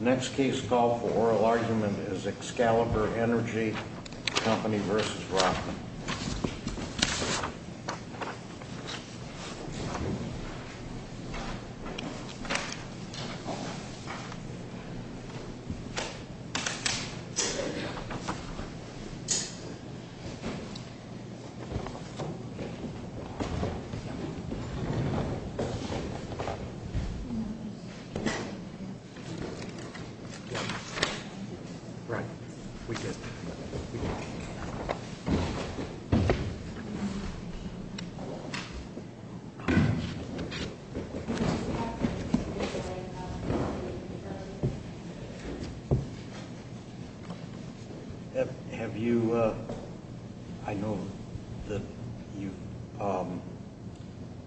The next case called for oral argument is Excalibur Energy Company v. Rochman. Right. We get that. Have you, I know that you've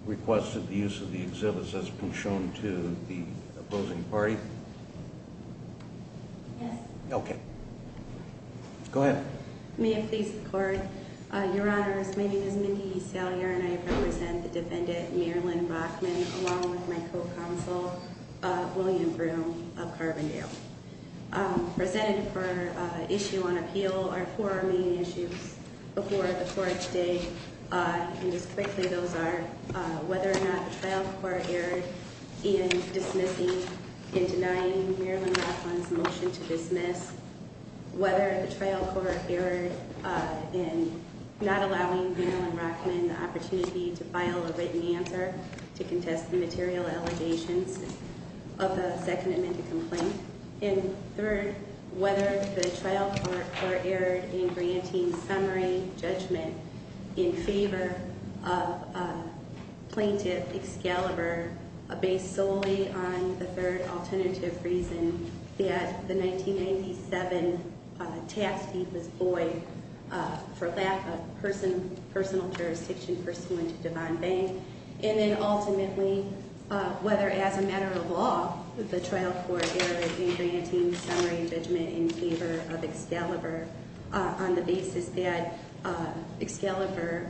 requested the use of the exhibits that's been shown to the opposing party? Yes. Okay. Go ahead. May it please the court. Your honors, my name is Mindy Salyer and I represent the defendant Marilyn Rochman along with my co-counsel William Broome of Carbondale. Presented for issue on appeal are four main issues before the court today. And just quickly, those are whether or not the trial court erred in dismissing and denying Marilyn Rochman's motion to dismiss. Whether the trial court erred in not allowing Marilyn Rochman the opportunity to file a written answer to contest the material allegations of the second amended complaint. And third, whether the trial court erred in granting summary judgment in favor of plaintiff Excalibur based solely on the third alternative reason that the 1997 tax deed was void for lack of personal jurisdiction pursuant to Devon Bank. And then ultimately, whether as a matter of law, the trial court erred in granting summary judgment in favor of Excalibur on the basis that Excalibur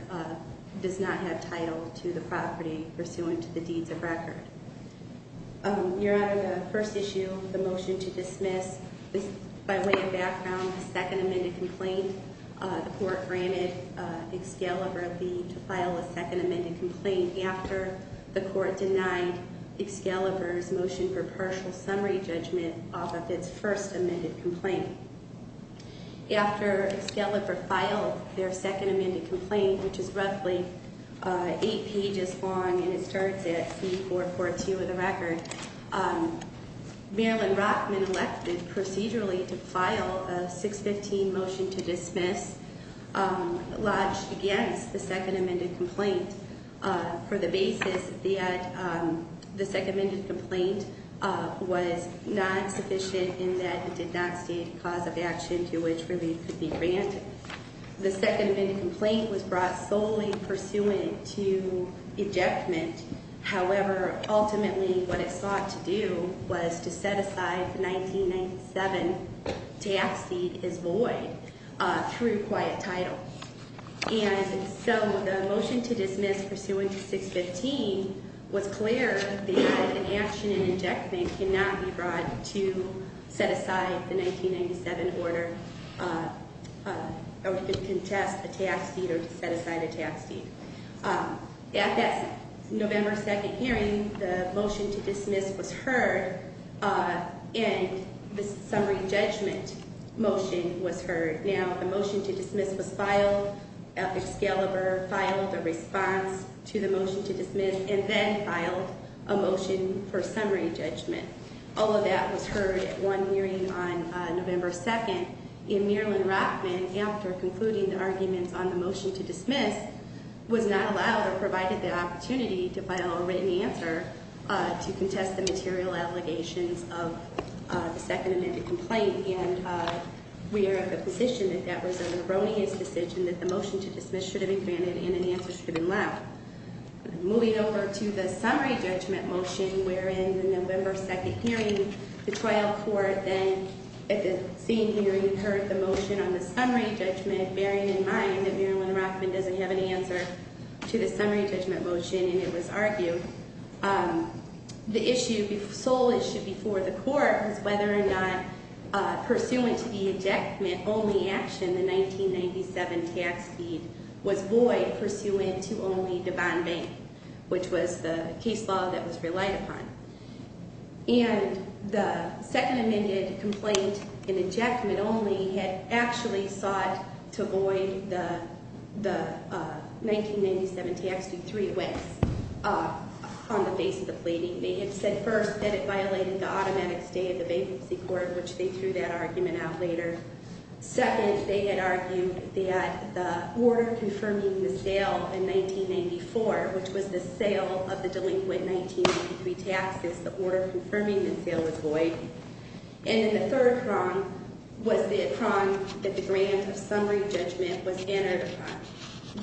does not have title to the property pursuant to the deeds of record. Your honor, the first issue, the motion to dismiss, by way of background, the second amended complaint. The court granted Excalibur a deed to file a second amended complaint after the court denied Excalibur's motion for partial summary judgment off of its first amended complaint. After Excalibur filed their second amended complaint, which is roughly eight pages long and it starts at C442 of the record, Marilyn Rochman elected procedurally to file a 615 motion to dismiss lodged against the second amended complaint. For the basis that the second amended complaint was not sufficient in that it did not state a cause of action to which relief could be granted. The second amended complaint was brought solely pursuant to ejectment. However, ultimately, what it sought to do was to set aside the 1997 tax deed as void through quiet title. And so the motion to dismiss pursuant to 615 was clear that an action in ejection cannot be brought to set aside the 1997 order. Or to contest a tax deed or to set aside a tax deed. At that November 2nd hearing, the motion to dismiss was heard and the summary judgment motion was heard. Now, the motion to dismiss was filed, Excalibur filed a response to the motion to dismiss, and then filed a motion for summary judgment. All of that was heard at one hearing on November 2nd. And Marilyn Rochman, after concluding the arguments on the motion to dismiss, was not allowed or provided the opportunity to file a written answer to contest the material allegations of the second amended complaint. And we are of the position that that was a erroneous decision, that the motion to dismiss should have been granted and an answer should have been allowed. Moving over to the summary judgment motion, wherein the November 2nd hearing, the trial court then, at the same hearing, heard the motion on the summary judgment, bearing in mind that Marilyn Rochman doesn't have an answer to the summary judgment motion and it was argued. The sole issue before the court was whether or not pursuant to the ejectment only action, the 1997 tax deed, was void pursuant to only the bond bank, which was the case law that was relied upon. And the second amended complaint in ejectment only had actually sought to void the 1997 tax deed three ways. On the basis of pleading, they had said first that it violated the automatic stay of the bankruptcy court, which they threw that argument out later. Second, they had argued that the order confirming the sale in 1994, which was the sale of the delinquent 1993 taxes, the order confirming the sale was void. And then the third prong was the prong that the grant of summary judgment was another prong,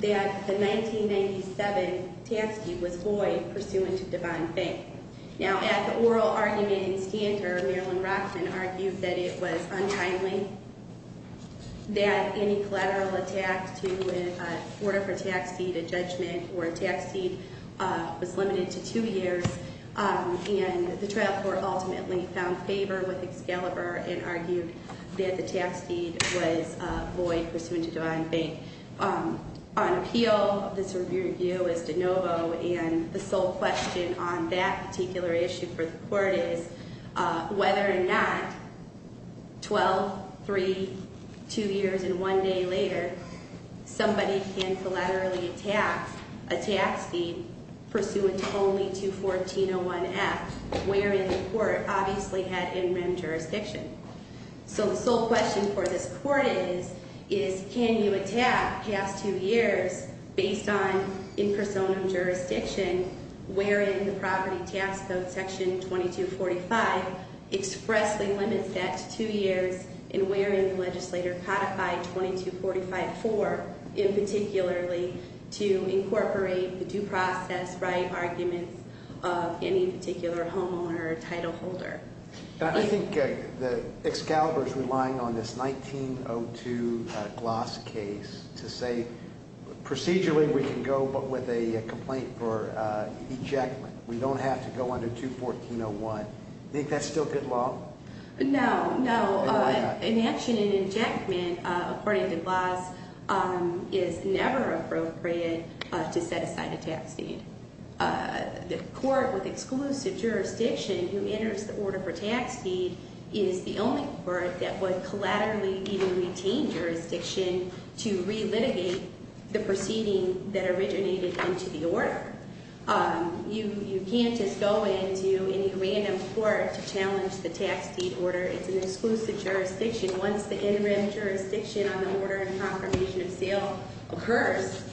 that the 1997 tax deed was void pursuant to bond bank. Now, at the oral argument in stander, Marilyn Rochman argued that it was untimely, that any collateral attack to an order for tax deed, a judgment, or a tax deed was limited to two years. And the trial court ultimately found favor with Excalibur and argued that the tax deed was void pursuant to bond bank. On appeal, this review is de novo, and the sole question on that particular issue for the court is whether or not 12, 3, 2 years, and 1 day later, somebody can collaterally attack a tax deed pursuant only to 1401F, wherein the court obviously had in-rim jurisdiction. So the sole question for this court is, is can you attack past two years based on in personam jurisdiction, wherein the property tax code section 2245 expressly limits that to two years, and wherein the legislator codified 2245-4 in particularly to incorporate the due process right arguments of any particular homeowner or title holder. I think that Excalibur's relying on this 1902 Gloss case to say procedurally we can go, but with a complaint for ejectment. We don't have to go under 21401. Do you think that's still good law? No, no. Why not? In action, an injectment, according to Gloss, is never appropriate to set aside a tax deed. The court with exclusive jurisdiction who enters the order for tax deed is the only court that would collaterally even retain jurisdiction to relitigate the proceeding that originated into the order. You can't just go into any random court to challenge the tax deed order. It's an exclusive jurisdiction. Once the interim jurisdiction on the order and confirmation of sale occurs,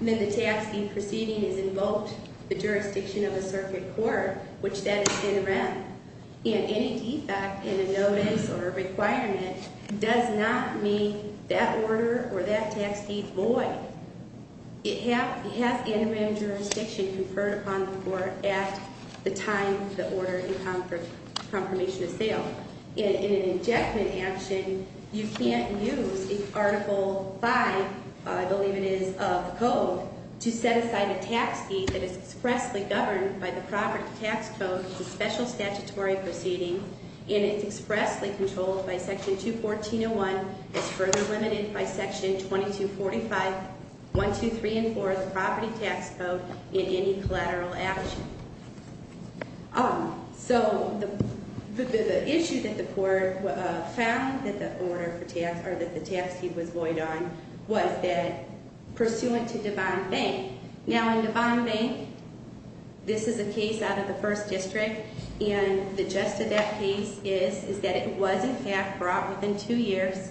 then the tax deed proceeding is invoked the jurisdiction of the circuit court, which that is interim. And any defect in a notice or a requirement does not mean that order or that tax deed void. It has interim jurisdiction conferred upon the court at the time of the order and confirmation of sale. In an injectment action, you can't use Article 5, I believe it is, of the code to set aside a tax deed that is expressly governed by the property tax code. It's a special statutory proceeding, and it's expressly controlled by Section 21401. It's further limited by Section 2245, 1, 2, 3, and 4 of the property tax code in any collateral action. So the issue that the court found that the tax deed was void on was that pursuant to Devon Bank. Now, in Devon Bank, this is a case out of the First District, and the gist of that case is that it was, in fact, brought within two years.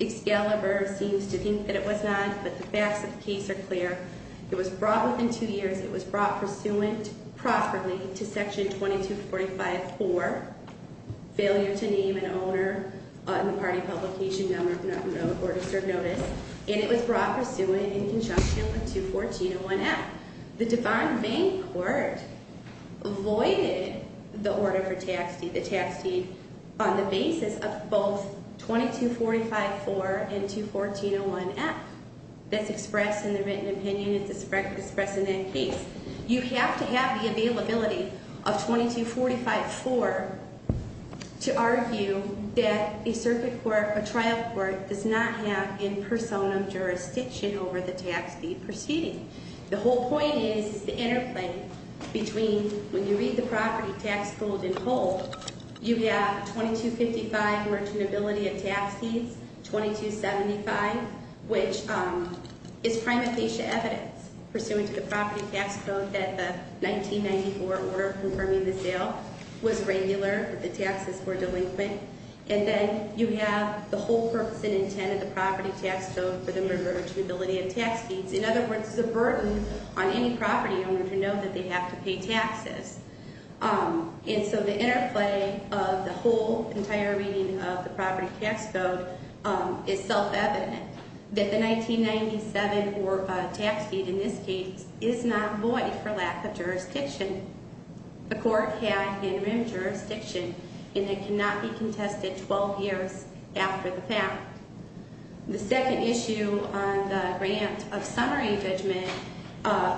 Excalibur seems to think that it was not, but the facts of the case are clear. It was brought within two years. It was brought pursuant properly to Section 2245.4, failure to name an owner in the party publication number of an order to serve notice. And it was brought pursuant in conjunction with 21401F. The Devon Bank court voided the order for tax deed, the tax deed on the basis of both 2245.4 and 21401F. That's expressed in the written opinion. It's expressed in that case. You have to have the availability of 2245.4 to argue that a circuit court, a trial court, does not have in personam jurisdiction over the tax deed proceeding. The whole point is the interplay between when you read the property tax code in whole, you have 2255, virgin ability of tax deeds, 2275, which is prima facie evidence. Pursuant to the property tax code that the 1994 order confirming the sale was regular, the taxes were delinquent. And then you have the whole purpose and intent of the property tax code for the virgin ability of tax deeds. In other words, it's a burden on any property owner to know that they have to pay taxes. And so the interplay of the whole entire reading of the property tax code is self-evident. That the 1997 tax deed in this case is not void for lack of jurisdiction. The court had interim jurisdiction and it cannot be contested 12 years after the fact. The second issue on the grant of summary judgment,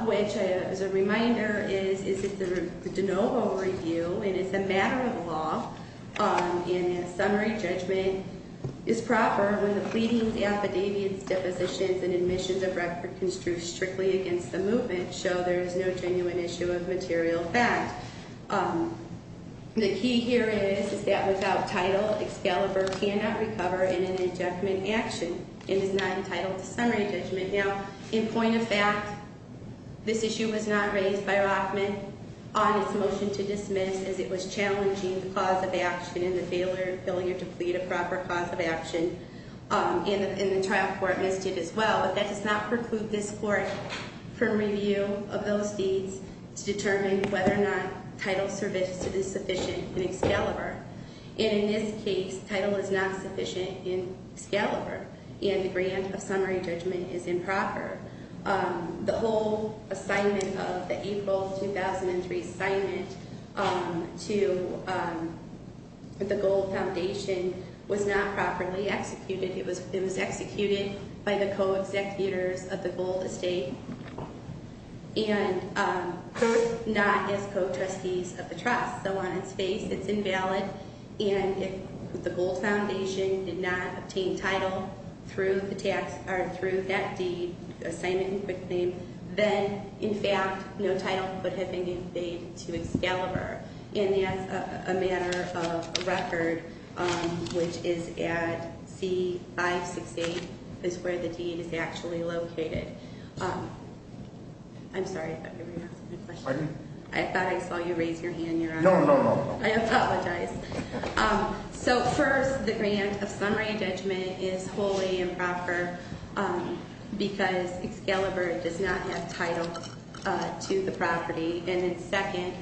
which is a reminder, is it's a de novo review and it's a matter of law. And a summary judgment is proper when the pleadings, affidavits, depositions, and admissions of record construed strictly against the movement show there is no genuine issue of material fact. The key here is, is that without title, Excalibur cannot recover in an injunctment action and is not entitled to summary judgment. Now, in point of fact, this issue was not raised by Rockman on its motion to dismiss as it was challenging the cause of action and the failure to plead a proper cause of action. And the trial court missed it as well. But that does not preclude this court from review of those deeds to determine whether or not title is sufficient in Excalibur. And in this case, title is not sufficient in Excalibur. And the grant of summary judgment is improper. The whole assignment of the April 2003 assignment to the Gold Foundation was not properly executed. It was executed by the co-executors of the Gold Estate and not as co-trustees of the trust. So on its face, it's invalid. And if the Gold Foundation did not obtain title through the tax, or through that deed, assignment and quick claim, then in fact, no title could have been invaded to Excalibur. And as a matter of record, which is at C568, is where the deed is actually located. I'm sorry, I thought you were going to ask me a question. I thought I saw you raise your hand, Your Honor. No, no, no, no. I apologize. So first, the grant of summary judgment is wholly improper because Excalibur does not have title to the property. And then second,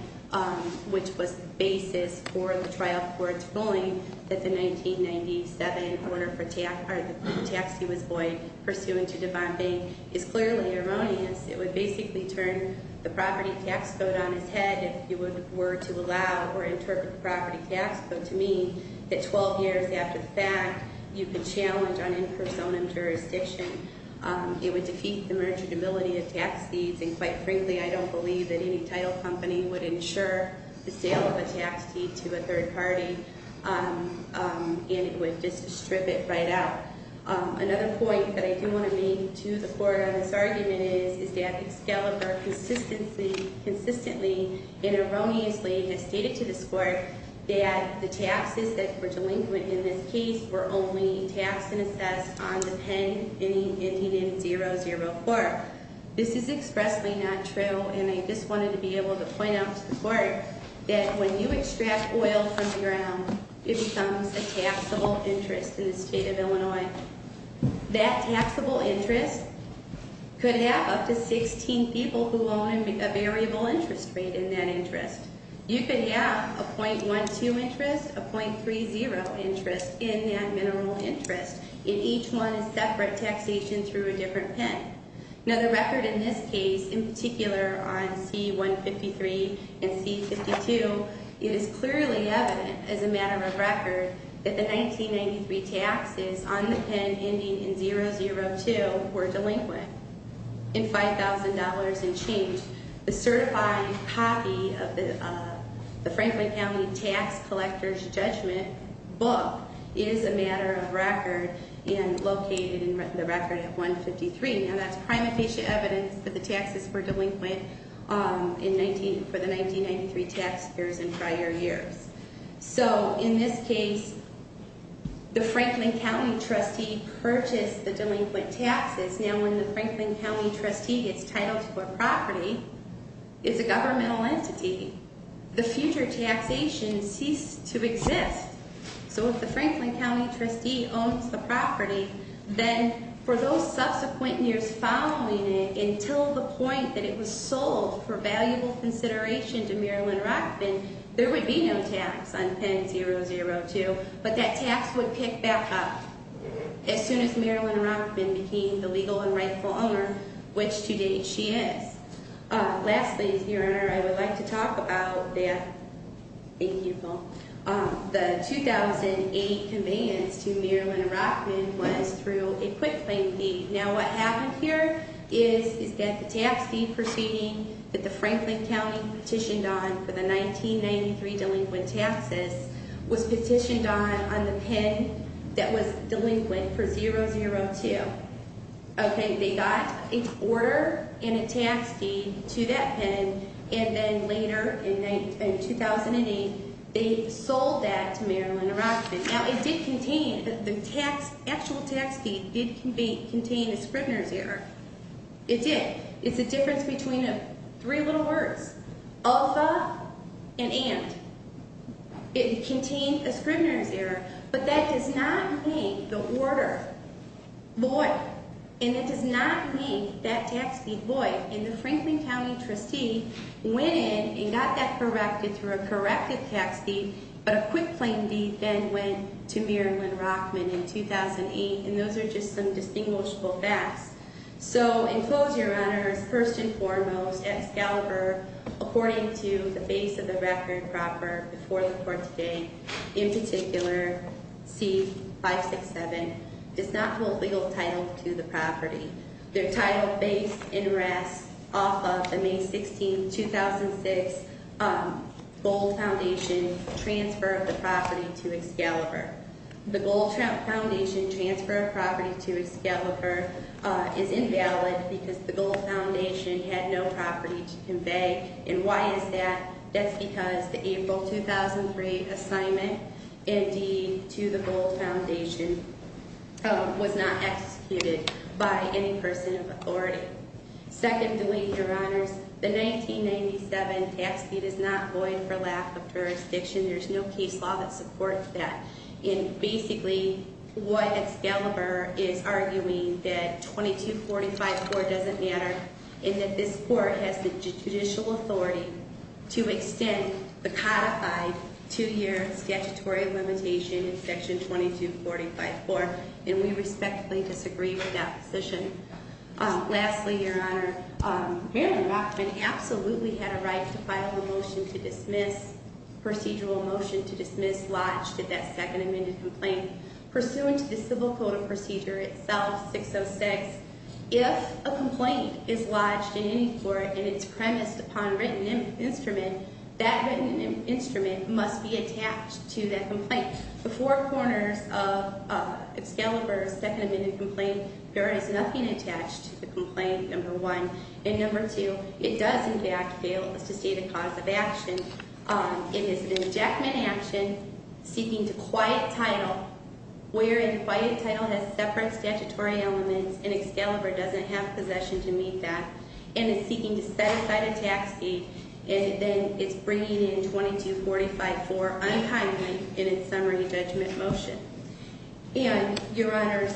which was the basis for the trial court's ruling that the 1997 order for tax, or the tax deed was void pursuant to Devon Bayne, is clearly erroneous. It would basically turn the property tax code on its head if you were to allow or interpret the property tax code to mean that 12 years after the fact, you could challenge on in personam jurisdiction. It would defeat the merchantability of tax deeds, and quite frankly, I don't believe that any title company would insure the sale of a tax deed to a third party. And it would just strip it right out. Another point that I do want to make to the court on this argument is that Excalibur consistently and erroneously has stated to this court that the taxes that were delinquent in this case were only taxed and assessed on the pen ending in 004. This is expressly not true, and I just wanted to be able to point out to the court that when you extract oil from the ground, it becomes a taxable interest in the state of Illinois. That taxable interest could have up to 16 people who own a variable interest rate in that interest. You could have a 0.12 interest, a 0.30 interest in that mineral interest, and each one is separate taxation through a different pen. Now the record in this case, in particular on C-153 and C-52, it is clearly evident as a matter of record that the 1993 taxes on the pen ending in 002 were delinquent in $5,000 and change. The certified copy of the Franklin County Tax Collector's Judgment book is a matter of record and located in the record of 153. Now that's prime official evidence that the taxes were delinquent for the 1993 tax years and prior years. So in this case, the Franklin County trustee purchased the delinquent taxes. Now when the Franklin County trustee gets titled for property, it's a governmental entity. The future taxation ceased to exist. So if the Franklin County trustee owns the property, then for those subsequent years following it, until the point that it was sold for valuable consideration to Marilyn Rockman, there would be no tax on pen 002. But that tax would pick back up as soon as Marilyn Rockman became the legal and rightful owner, which to date she is. Lastly, Your Honor, I would like to talk about the 2008 demands to Marilyn Rockman was through a quick claim deed. Now what happened here is that the tax deed proceeding that the Franklin County petitioned on for the 1993 delinquent taxes was petitioned on on the pen that was delinquent for 002. Okay, they got an order and a tax deed to that pen and then later in 2008, they sold that to Marilyn Rockman. Now it did contain, the actual tax deed did contain a Scribner's error. It did. It's a difference between three little words. Alpha and and. It contained a Scribner's error, but that does not make the order void. And it does not make that tax deed void. And the Franklin County trustee went in and got that corrected through a corrected tax deed, but a quick claim deed then went to Marilyn Rockman in 2008. And those are just some distinguishable facts. So in close, Your Honor, first and foremost, Excalibur, according to the base of the record proper before the court today, in particular, C567, does not hold legal title to the property. They're titled based in rest off of the May 16, 2006 Gold Foundation transfer of the property to Excalibur. The Gold Foundation transfer of property to Excalibur is invalid because the Gold Foundation had no property to convey. And why is that? That's because the April 2003 assignment and deed to the Gold Foundation was not executed by any person of authority. Secondly, Your Honors, the 1997 tax deed is not void for lack of jurisdiction. There's no case law that supports that. And basically, what Excalibur is arguing that 2245-4 doesn't matter and that this court has the judicial authority to extend the codified two-year statutory limitation in section 2245-4. And we respectfully disagree with that position. Lastly, Your Honor, Marilyn Rockman absolutely had a right to file a motion to dismiss, procedural motion to dismiss lodged at that second amended complaint. Pursuant to the civil code of procedure itself, 606, if a complaint is lodged in any court and it's premised upon written instrument, that written instrument must be attached to that complaint. The four corners of Excalibur's second amended complaint, there is nothing attached to the complaint, number one. And number two, it does in fact fail us to see the cause of action. It is an injectment action seeking to quiet title, wherein quiet title has separate statutory elements and Excalibur doesn't have possession to meet that. And it's seeking to set aside a tax deed and then it's bringing in 2245-4 unkindly. And it's summary judgment motion. And, Your Honors,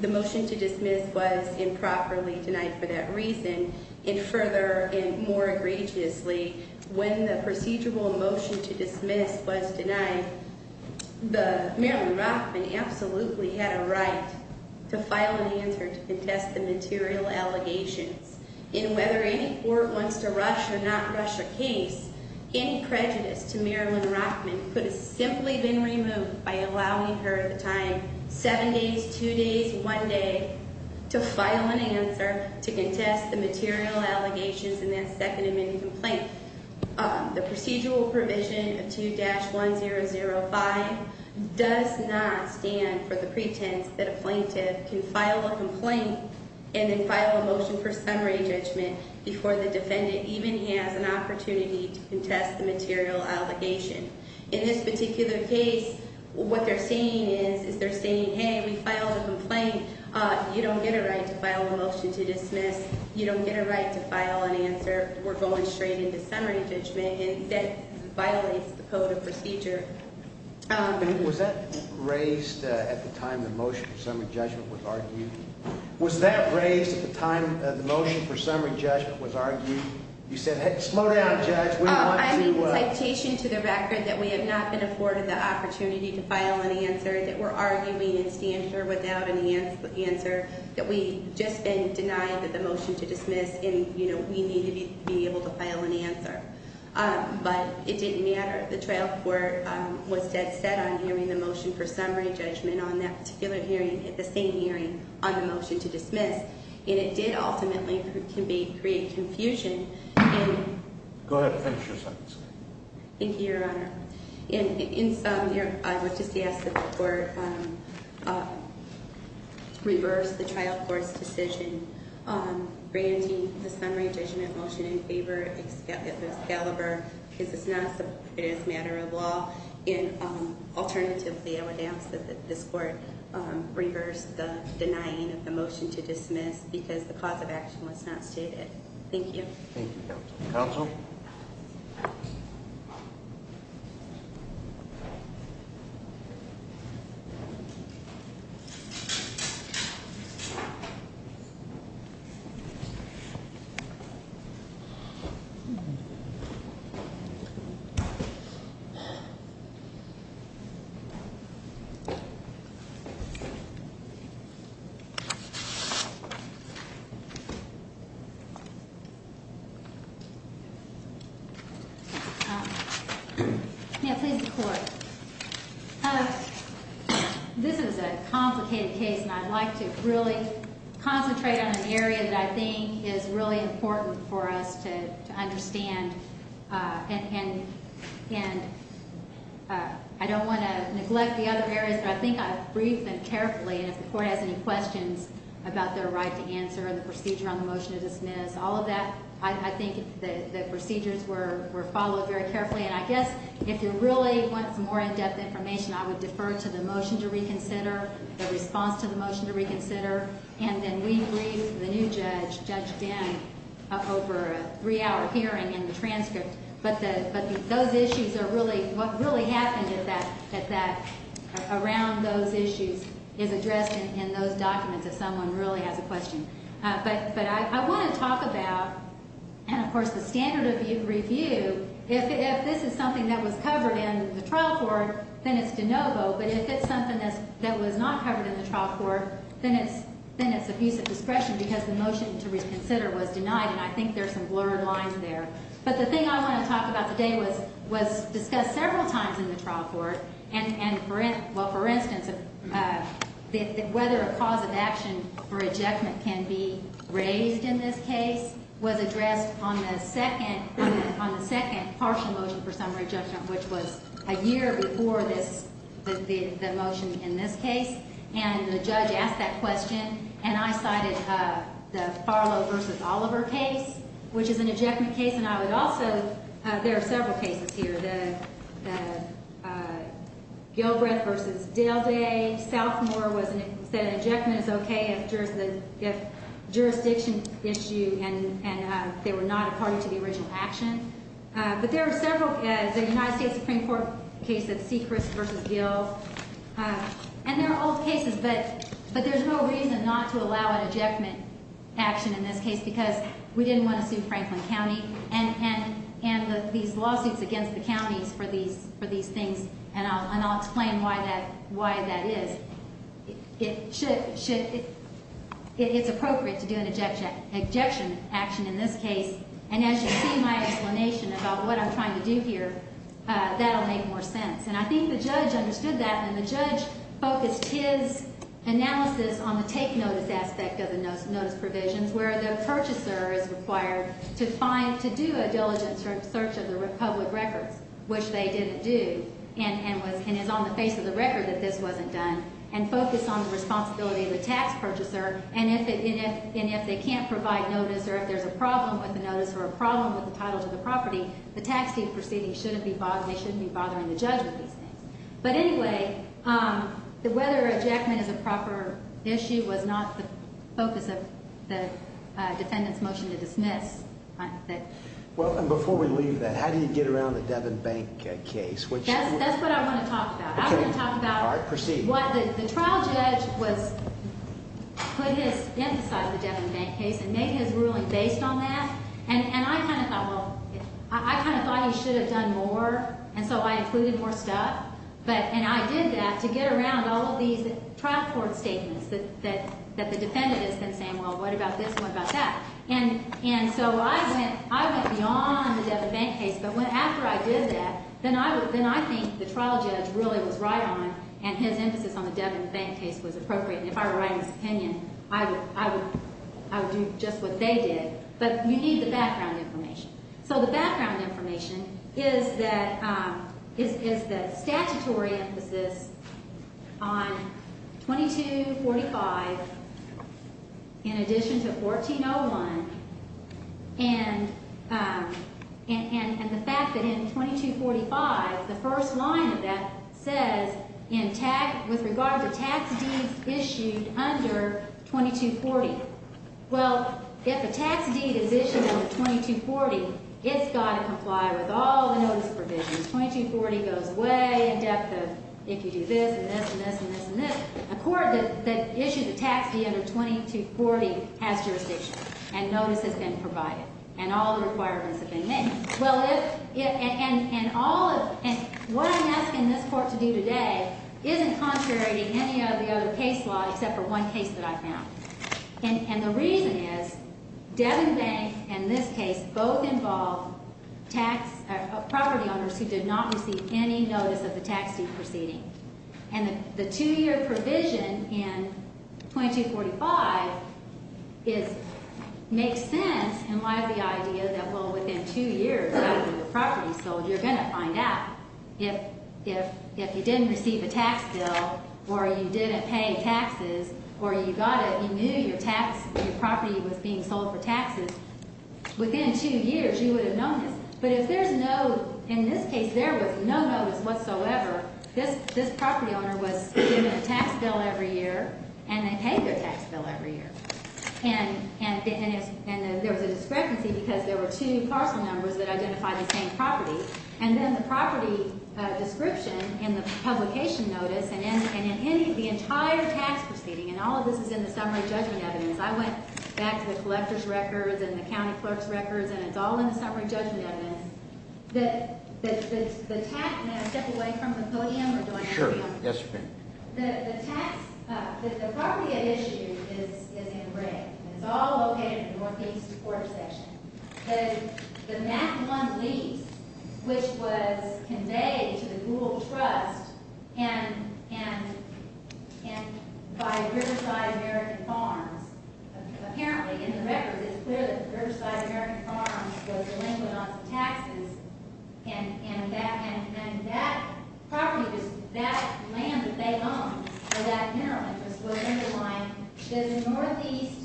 the motion to dismiss was improperly denied for that reason. And further and more egregiously, when the procedural motion to dismiss was denied, the Marilyn Rockman absolutely had a right to file an answer to contest the material allegations. And whether any court wants to rush or not rush a case, any prejudice to Marilyn Rockman could have simply been removed by allowing her the time, seven days, two days, one day, to file an answer to contest the material allegations in that second amendment complaint. The procedural provision of 2-1005 does not stand for the pretense that a plaintiff can file a complaint and then file a motion for an opportunity to contest the material allegation. In this particular case, what they're saying is, is they're saying, hey, we filed a complaint. You don't get a right to file a motion to dismiss. You don't get a right to file an answer. We're going straight into summary judgment. And that violates the code of procedure. Was that raised at the time the motion for summary judgment was argued? Was that raised at the time the motion for summary judgment was argued? You said, hey, slow down, judge. We want to ‑‑ I made a citation to the record that we have not been afforded the opportunity to file an answer, that we're arguing in standard without an answer, that we've just been denied the motion to dismiss and, you know, we need to be able to file an answer. But it didn't matter. The trial court was set on hearing the motion for summary judgment on that particular hearing at the same hearing on the motion to dismiss. And it did ultimately create confusion. Go ahead. Thank you, Your Honor. I would just ask that the court reverse the trial court's decision granting the summary judgment motion in favor of Excalibur because it is not a matter of law. Alternatively, I would ask that this court reverse the denying of the motion to dismiss because the cause of action was not stated. Thank you. Thank you, counsel. Counsel? Yeah, please, the court. This is a complicated case, and I'd like to really concentrate on an area that I think is really important for us to understand and I don't want to neglect the other areas, but I think I've briefed them carefully. And if the court has any questions about their right to answer and the procedure on the motion to dismiss, all of that, I think the procedures were followed very carefully. And I guess if you really want some more in-depth information, I would defer to the motion to reconsider, the response to the motion to reconsider, and then we brief the new judge, Judge Den, over a three-hour hearing and the transcript. But those issues are really what really happened around those issues is addressed in those documents if someone really has a question. But I want to talk about, and of course the standard of review, if this is something that was covered in the trial court, then it's de novo, but if it's something that was not covered in the trial court, then it's a piece of discretion because the motion to reconsider was denied, and I think there's some blurred lines there. But the thing I want to talk about today was discussed several times in the trial court, and for instance, whether a cause of action for rejectment can be raised in this case was addressed on the second partial motion for summary judgment, which was a year before the motion in this case. And the judge asked that question, and I cited the Farlow v. Oliver case, which is an ejectment case, and I would also, there are several cases here, the Gilbreth v. Delday, a sophomore said an ejectment is okay if jurisdiction gets you and they were not a party to the original action. But there are several, the United States Supreme Court case of Sechrist v. Gil, and there are all cases, but there's no reason not to allow an ejectment action in this case because we didn't want to sue Franklin County and these lawsuits against the counties for these things, and I'll explain why that is. It's appropriate to do an ejection action in this case, and as you see my explanation about what I'm trying to do here, that will make more sense. And I think the judge understood that, and the judge focused his analysis on the take notice aspect of the notice provisions where the purchaser is required to do a diligent search of the public records, which they didn't do, and is on the face of the record that this wasn't done, and focus on the responsibility of the tax purchaser, and if they can't provide notice or if there's a problem with the notice or a problem with the title to the property, the tax team proceeding shouldn't be bothering the judge with these things. But anyway, whether ejectment is a proper issue was not the focus of the defendant's motion to dismiss. Well, and before we leave that, how do you get around the Devin Bank case? That's what I want to talk about. I want to talk about what the trial judge put his emphasis on the Devin Bank case and made his ruling based on that, and I kind of thought, well, I kind of thought he should have done more, and so I included more stuff, and I did that to get around all of these trial court statements that the defendant has been saying, well, what about this and what about that? And so I went beyond the Devin Bank case, but after I did that, then I think the trial judge really was right on, and his emphasis on the Devin Bank case was appropriate, and if I were writing his opinion, I would do just what they did. But you need the background information. So the background information is the statutory emphasis on 2245 in addition to 1401 and the fact that in 2245, the first line of that says with regard to tax deeds issued under 2240. Well, if a tax deed is issued under 2240, it's got to comply with all the notice provisions. 2240 goes way in depth of if you do this and this and this and this and this. A court that issued a tax deed under 2240 has jurisdiction, and notice has been provided, and all the requirements have been met. And what I'm asking this court to do today isn't contrary to any of the other case law except for one case that I found, and the reason is Devin Bank and this case both involve property owners who did not receive any notice of the tax deed proceeding, and the two-year provision in 2245 makes sense in light of the idea that, well, within two years, after the property is sold, you're going to find out if you didn't receive a tax bill or you didn't pay taxes or you knew your property was being sold for taxes, within two years, you would have known this. But if there's no—in this case, there was no notice whatsoever. This property owner was given a tax bill every year, and they paid their tax bill every year. And there was a discrepancy because there were two parcel numbers that identified the same property. And then the property description in the publication notice and in any of the entire tax proceeding, and all of this is in the summary judgment evidence. I went back to the collector's records and the county clerk's records, and it's all in the summary judgment evidence. The tax—and I'll step away from the podium. Sure. Yes, ma'am. The tax—the property at issue is in red. It's all located in the northeast quarter section. The Mackamond Lease, which was conveyed to the Gould Trust and by Riverside American Farms, apparently in the records, it's clear that Riverside American Farms was delinquent on some taxes, and that property was—that land that they owned, or that mineral interest, would underline this northeast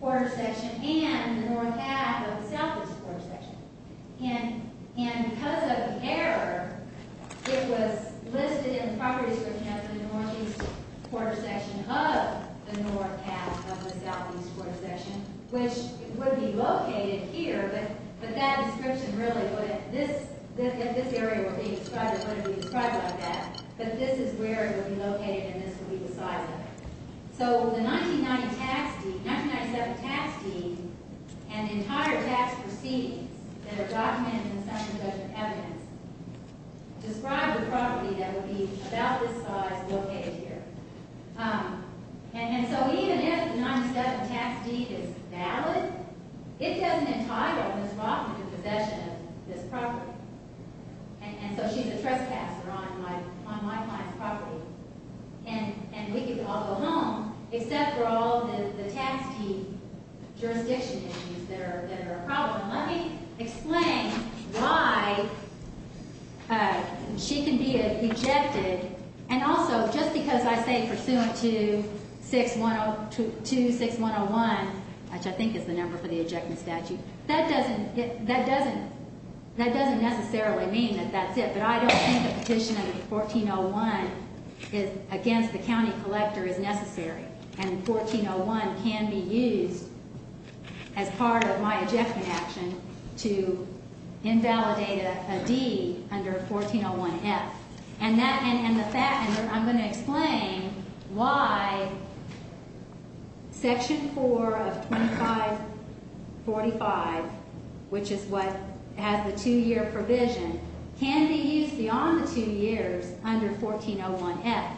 quarter section and the north half of the southeast quarter section. And because of the error, it was listed in the property description as the northeast quarter section of the north half of the southeast quarter section, which would be located here, but that description really wouldn't—if this area were being described, it wouldn't be described like that. But this is where it would be located, and this would be the size of it. So the 1990 tax—1997 tax deed and the entire tax proceedings that are documented in the summary judgment evidence describe the property that would be about this size located here. And so even if the 1997 tax deed is valid, it doesn't entitle Ms. Rothman to possession of this property. And so she's a trespasser on my client's property, and we could all go home, except for all the tax deed jurisdiction issues that are a problem. Let me explain why she can be ejected, and also just because I say Pursuant to 6101, which I think is the number for the ejection statute, that doesn't necessarily mean that that's it. But I don't think a petition under 1401 against the county collector is necessary, and 1401 can be used as part of my ejection action to invalidate a deed under 1401F. And I'm going to explain why Section 4 of 2545, which is what has the two-year provision, can be used beyond the two years under 1401F.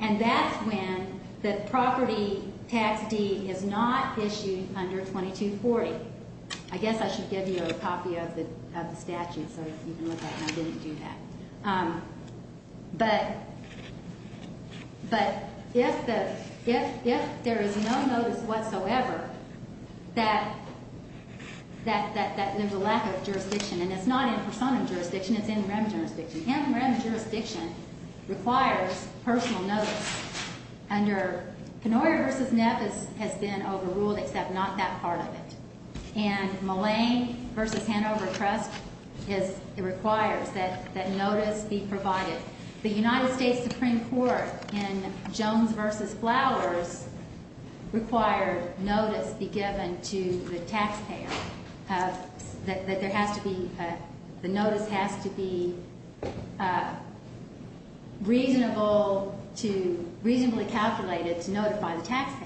And that's when the property tax deed is not issued under 2240. I guess I should give you a copy of the statute so you can look at it. I didn't do that. But if there is no notice whatsoever that there's a lack of jurisdiction, and it's not in persona jurisdiction, it's in rem jurisdiction. In rem jurisdiction requires personal notice. Under Kenoria v. Neff, it has been overruled except not that part of it. And Mullane v. Hanover Trust requires that notice be provided. The United States Supreme Court in Jones v. Flowers required notice be given to the taxpayer, that the notice has to be reasonably calculated to notify the taxpayer.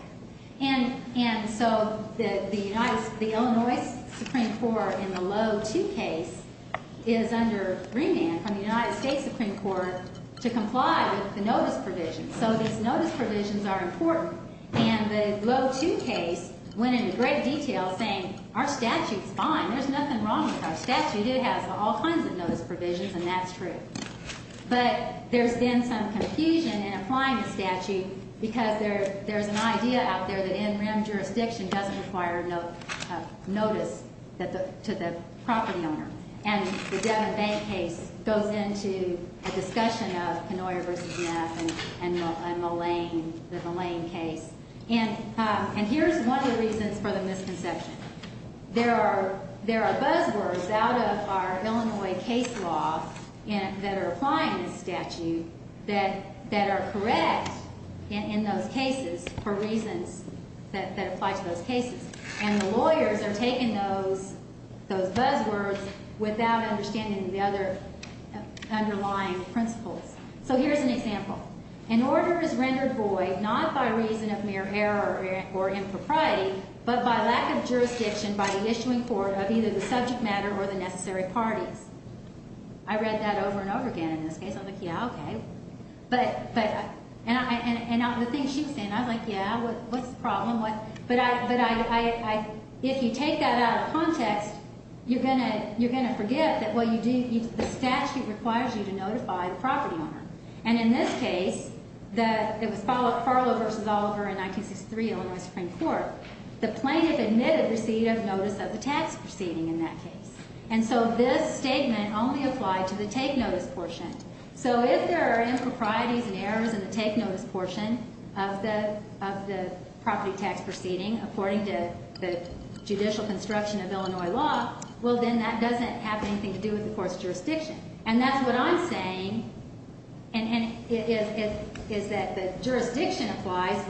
And so the Illinois Supreme Court in the Loeh 2 case is under remand from the United States Supreme Court to comply with the notice provision. So these notice provisions are important. And the Loeh 2 case went into great detail saying our statute's fine. There's nothing wrong with our statute. It has all kinds of notice provisions, and that's true. But there's been some confusion in applying the statute because there's an idea out there that in rem jurisdiction doesn't require notice to the property owner. And the Devon Bank case goes into a discussion of Kenoria v. Neff and the Mullane case. And here's one of the reasons for the misconception. There are buzzwords out of our Illinois case law that are applying this statute that are correct in those cases for reasons that apply to those cases. And the lawyers are taking those buzzwords without understanding the other underlying principles. So here's an example. An order is rendered void not by reason of mere error or impropriety, but by lack of jurisdiction by the issuing court of either the subject matter or the necessary parties. I read that over and over again in this case. I'm like, yeah, okay. And the thing she was saying, I was like, yeah, what's the problem? But if you take that out of context, you're going to forget that the statute requires you to notify the property owner. And in this case, it was Farlow v. Oliver in 1963, Illinois Supreme Court. The plaintiff admitted receipt of notice of the tax proceeding in that case. And so this statement only applied to the take notice portion. So if there are improprieties and errors in the take notice portion of the property tax proceeding according to the judicial construction of Illinois law, well, then that doesn't have anything to do with the court's jurisdiction. And that's what I'm saying is that the jurisdiction applies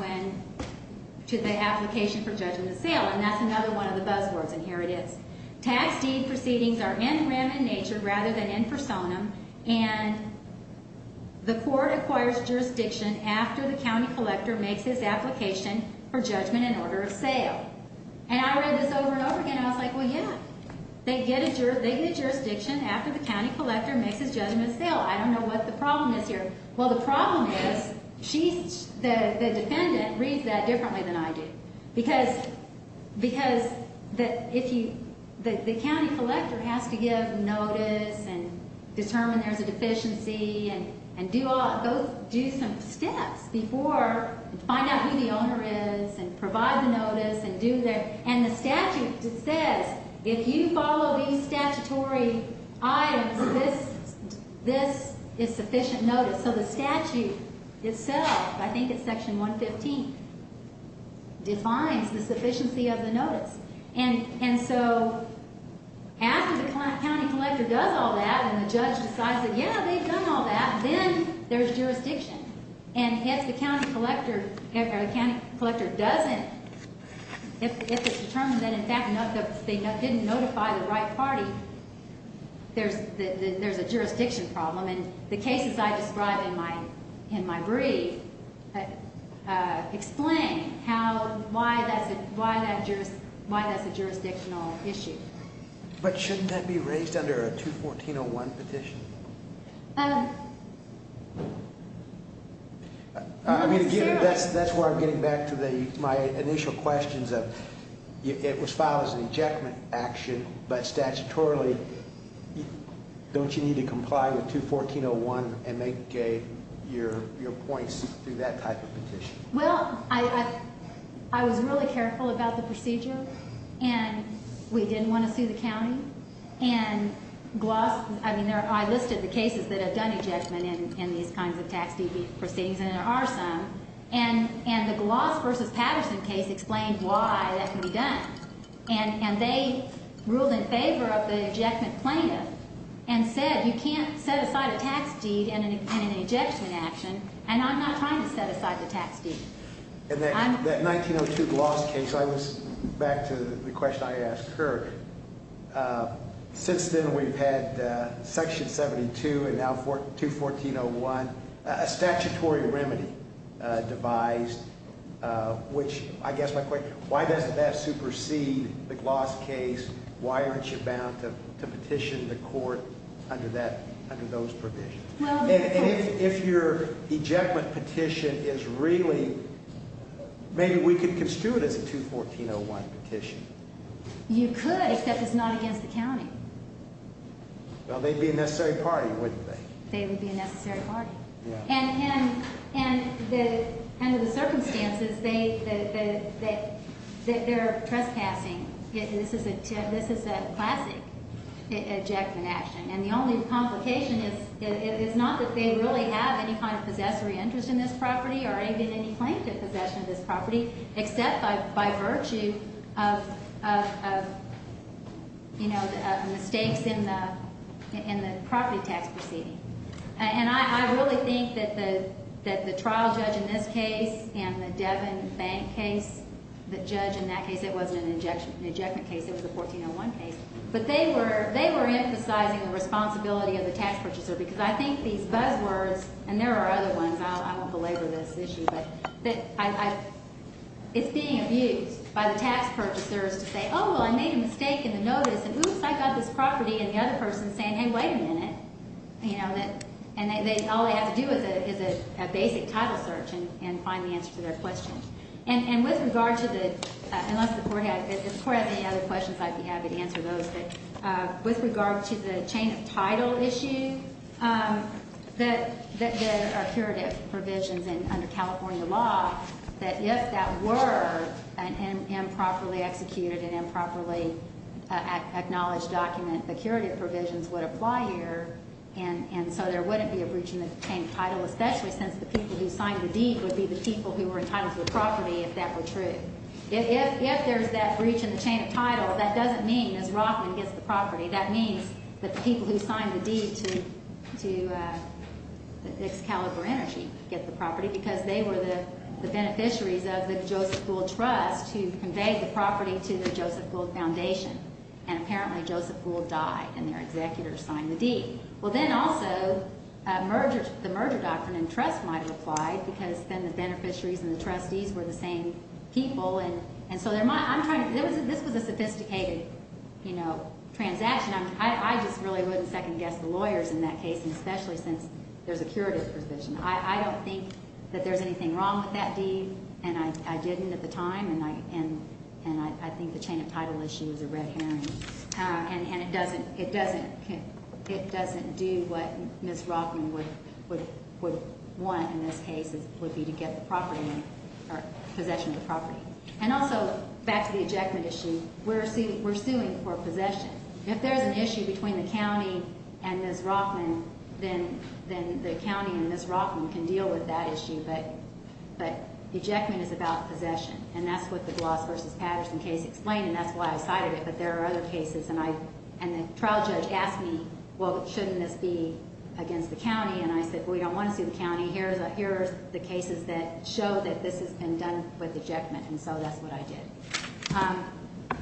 to the application for judgment of sale. And that's another one of the buzzwords. And here it is. Tax deed proceedings are in rem in nature rather than in personam. And the court acquires jurisdiction after the county collector makes his application for judgment in order of sale. And I read this over and over again. I was like, well, yeah, they get a jurisdiction after the county collector makes his judgment of sale. I don't know what the problem is here. Well, the problem is the defendant reads that differently than I do. Because the county collector has to give notice and determine there's a deficiency and do some steps before to find out who the owner is and provide the notice. And the statute says if you follow these statutory items, this is sufficient notice. So the statute itself, I think it's section 115, defines the sufficiency of the notice. And so after the county collector does all that and the judge decides that, yeah, they've done all that, then there's jurisdiction. And if the county collector doesn't, if it's determined that, in fact, they didn't notify the right party, there's a jurisdiction problem. And the cases I describe in my brief explain why that's a jurisdictional issue. But shouldn't that be raised under a 214.01 petition? I mean, again, that's why I'm getting back to my initial questions of it was filed as an injectment action. But statutorily, don't you need to comply with 214.01 and make your points through that type of petition? Well, I was really careful about the procedure. And we didn't want to sue the county. And I listed the cases that have done ejection in these kinds of tax proceedings, and there are some. And the Gloss v. Patterson case explained why that can be done. And they ruled in favor of the ejectment plaintiff and said you can't set aside a tax deed in an injection action, and I'm not trying to set aside the tax deed. And that 1902 Gloss case, I was back to the question I asked her. Since then, we've had Section 72 and now 214.01, a statutory remedy devised, which I guess my question, why doesn't that supersede the Gloss case? Why aren't you bound to petition the court under those provisions? And if your ejectment petition is really – maybe we could construe it as a 214.01 petition. You could, except it's not against the county. Well, they'd be a necessary party, wouldn't they? They would be a necessary party. And under the circumstances, they're trespassing. This is a classic ejectment action. And the only complication is it's not that they really have any kind of possessory interest in this property or any claim to possession of this property, except by virtue of mistakes in the property tax proceeding. And I really think that the trial judge in this case and the Devon Bank case, the judge in that case, it wasn't an ejection case. It was a 1401 case. But they were emphasizing the responsibility of the tax purchaser because I think these buzzwords – and there are other ones. I won't belabor this issue. But it's being abused by the tax purchasers to say, oh, well, I made a mistake in the notice, and oops, I got this property. And the other person is saying, hey, wait a minute. And all they have to do is a basic title search and find the answer to their question. And with regard to the – unless the court has any other questions, I'd be happy to answer those. With regard to the chain of title issue, the curative provisions under California law, that if that were improperly executed and improperly acknowledged document, the curative provisions would apply here, and so there wouldn't be a breach in the chain of title, especially since the people who signed the deed would be the people who were entitled to the property if that were true. If there's that breach in the chain of title, that doesn't mean, as Rothman gets the property, that means that the people who signed the deed to Excalibur Energy get the property because they were the beneficiaries of the Joseph Gould Trust who conveyed the property to the Joseph Gould Foundation. And apparently Joseph Gould died, and their executor signed the deed. Well, then also the merger doctrine and trust might have applied because then the beneficiaries and the trustees were the same people. And so this was a sophisticated transaction. I just really wouldn't second-guess the lawyers in that case, especially since there's a curative provision. I don't think that there's anything wrong with that deed, and I didn't at the time, and I think the chain of title issue is a red herring. And it doesn't do what Ms. Rothman would want in this case, would be to get the property or possession of the property. And also, back to the ejectment issue, we're suing for possession. If there's an issue between the county and Ms. Rothman, then the county and Ms. Rothman can deal with that issue. But ejectment is about possession, and that's what the Gloss v. Patterson case explained, and that's why I cited it. But there are other cases, and the trial judge asked me, well, shouldn't this be against the county? And I said, well, we don't want to sue the county. Here are the cases that show that this has been done with ejectment, and so that's what I did.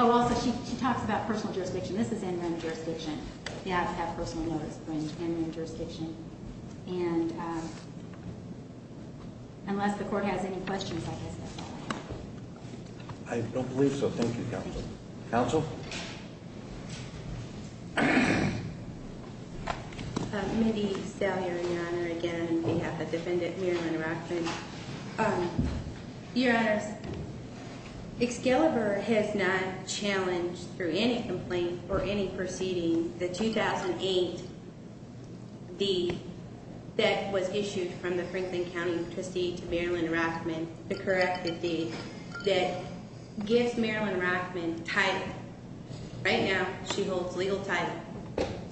Oh, also, she talks about personal jurisdiction. This is interim jurisdiction. You have to have personal notice in interim jurisdiction. And unless the court has any questions, I guess that's all I have. I don't believe so. Thank you, counsel. Counsel? Mindy Stallion, Your Honor, again, on behalf of Defendant Marilyn Rothman. Your Honor, Excalibur has not challenged, through any complaint or any proceeding, the 2008 deed that was issued from the Franklin County trustee to Marilyn Rothman, the corrective deed, that gives Marilyn Rothman title. Right now, she holds legal title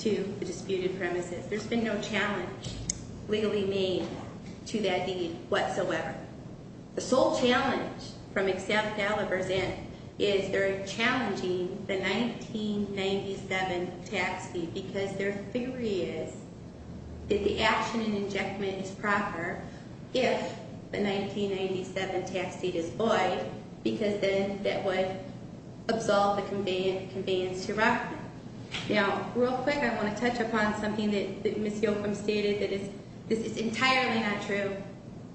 to the disputed premises. There's been no challenge legally made to that deed whatsoever. The sole challenge from Excalibur's end is they're challenging the 1997 tax deed because their theory is that the action in injectment is proper if the 1997 tax deed is void because then that would absolve the conveyance to Rothman. Now, real quick, I want to touch upon something that Ms. Yochum stated that is entirely not true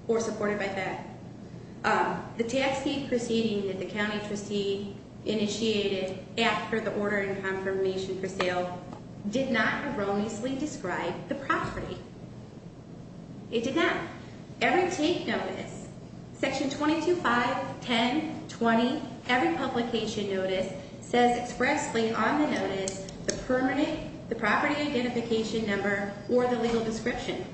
or supported by that. The tax deed proceeding that the county trustee initiated after the order and confirmation for sale did not erroneously describe the property. It did not. Every take notice, section 22-5, 10, 20, every publication notice says expressly on the notice the permanent, the property identification number, or the legal description.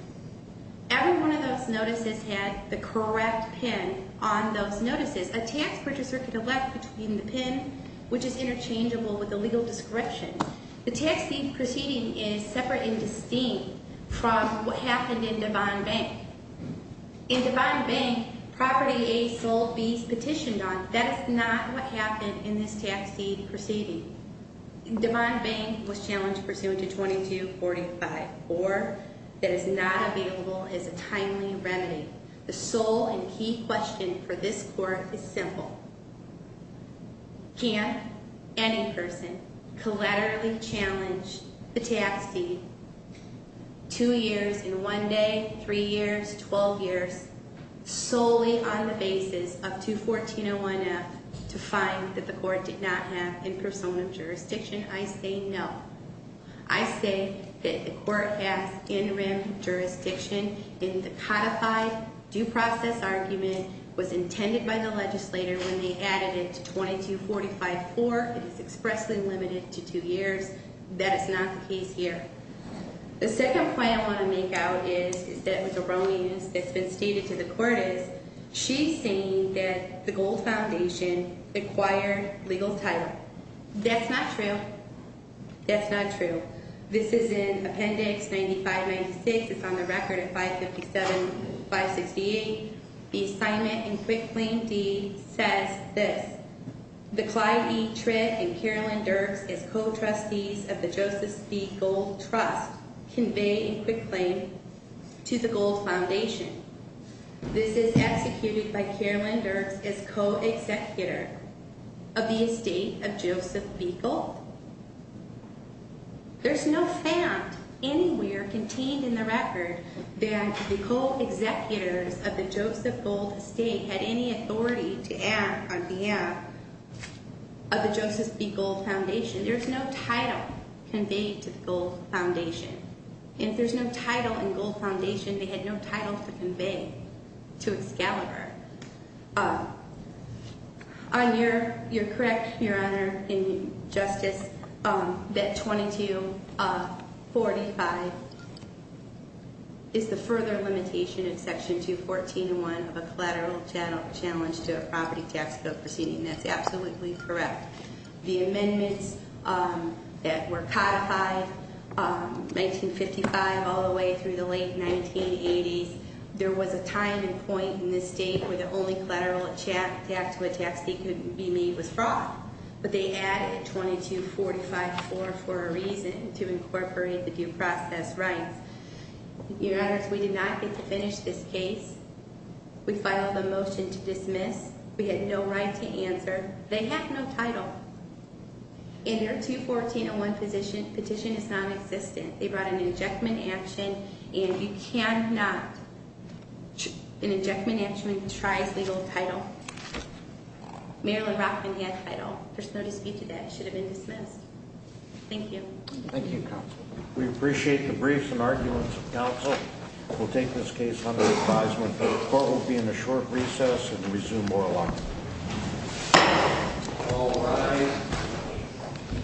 Every one of those notices had the correct PIN on those notices. A tax purchaser can elect between the PIN, which is interchangeable with the legal description. The tax deed proceeding is separate and distinct from what happened in Devon Bank. In Devon Bank, property A sold B's petitioned on. That is not what happened in this tax deed proceeding. Devon Bank was challenged pursuant to 22-45, or that is not available as a timely remedy. The sole and key question for this court is simple. Can any person collaterally challenge the tax deed 2 years in 1 day, 3 years, 12 years, solely on the basis of 214-01F to find that the court did not have in persona jurisdiction? I say no. I say that the court has in rem jurisdiction in the codified due process argument was intended by the legislator when they added it to 22-45-4. It is expressly limited to 2 years. That is not the case here. The second point I want to make out is that was a wrong use. It's been stated to the court is she's saying that the Gold Foundation acquired legal title. That's not true. That's not true. This is in Appendix 95-96. It's on the record of 557-568. The assignment in Quick Claim D says this. The Clyde E. Tritt and Carolyn Dirks as co-trustees of the Joseph B. Gold Trust convey in Quick Claim to the Gold Foundation. This is executed by Carolyn Dirks as co-executor of the estate of Joseph B. Gold. There's no fact anywhere contained in the record that the co-executors of the Joseph Gold estate had any authority to act on behalf of the Joseph B. Gold Foundation. There's no title conveyed to the Gold Foundation. If there's no title in Gold Foundation, they had no title to convey to Excalibur. You're correct, Your Honor, in Justice, that 2245 is the further limitation in Section 214.1 of a collateral challenge to a property tax bill proceeding. That's absolutely correct. The amendments that were codified, 1955 all the way through the late 1980s, there was a time and point in this state where the only collateral tax that could be made was fraud. But they added 2245.4 for a reason, to incorporate the due process rights. Your Honor, we did not get to finish this case. We filed a motion to dismiss. We had no right to answer. They have no title. In their 214.1 petition, it's non-existent. They brought an injectment action. And you cannot, an injectment action contrives legal title. Marilyn Rockman had title. There's no dispute to that. It should have been dismissed. Thank you. Thank you, counsel. We appreciate the briefs and arguments of counsel. We'll take this case under advisement. The court will be in a short recess and resume oral argument. All rise.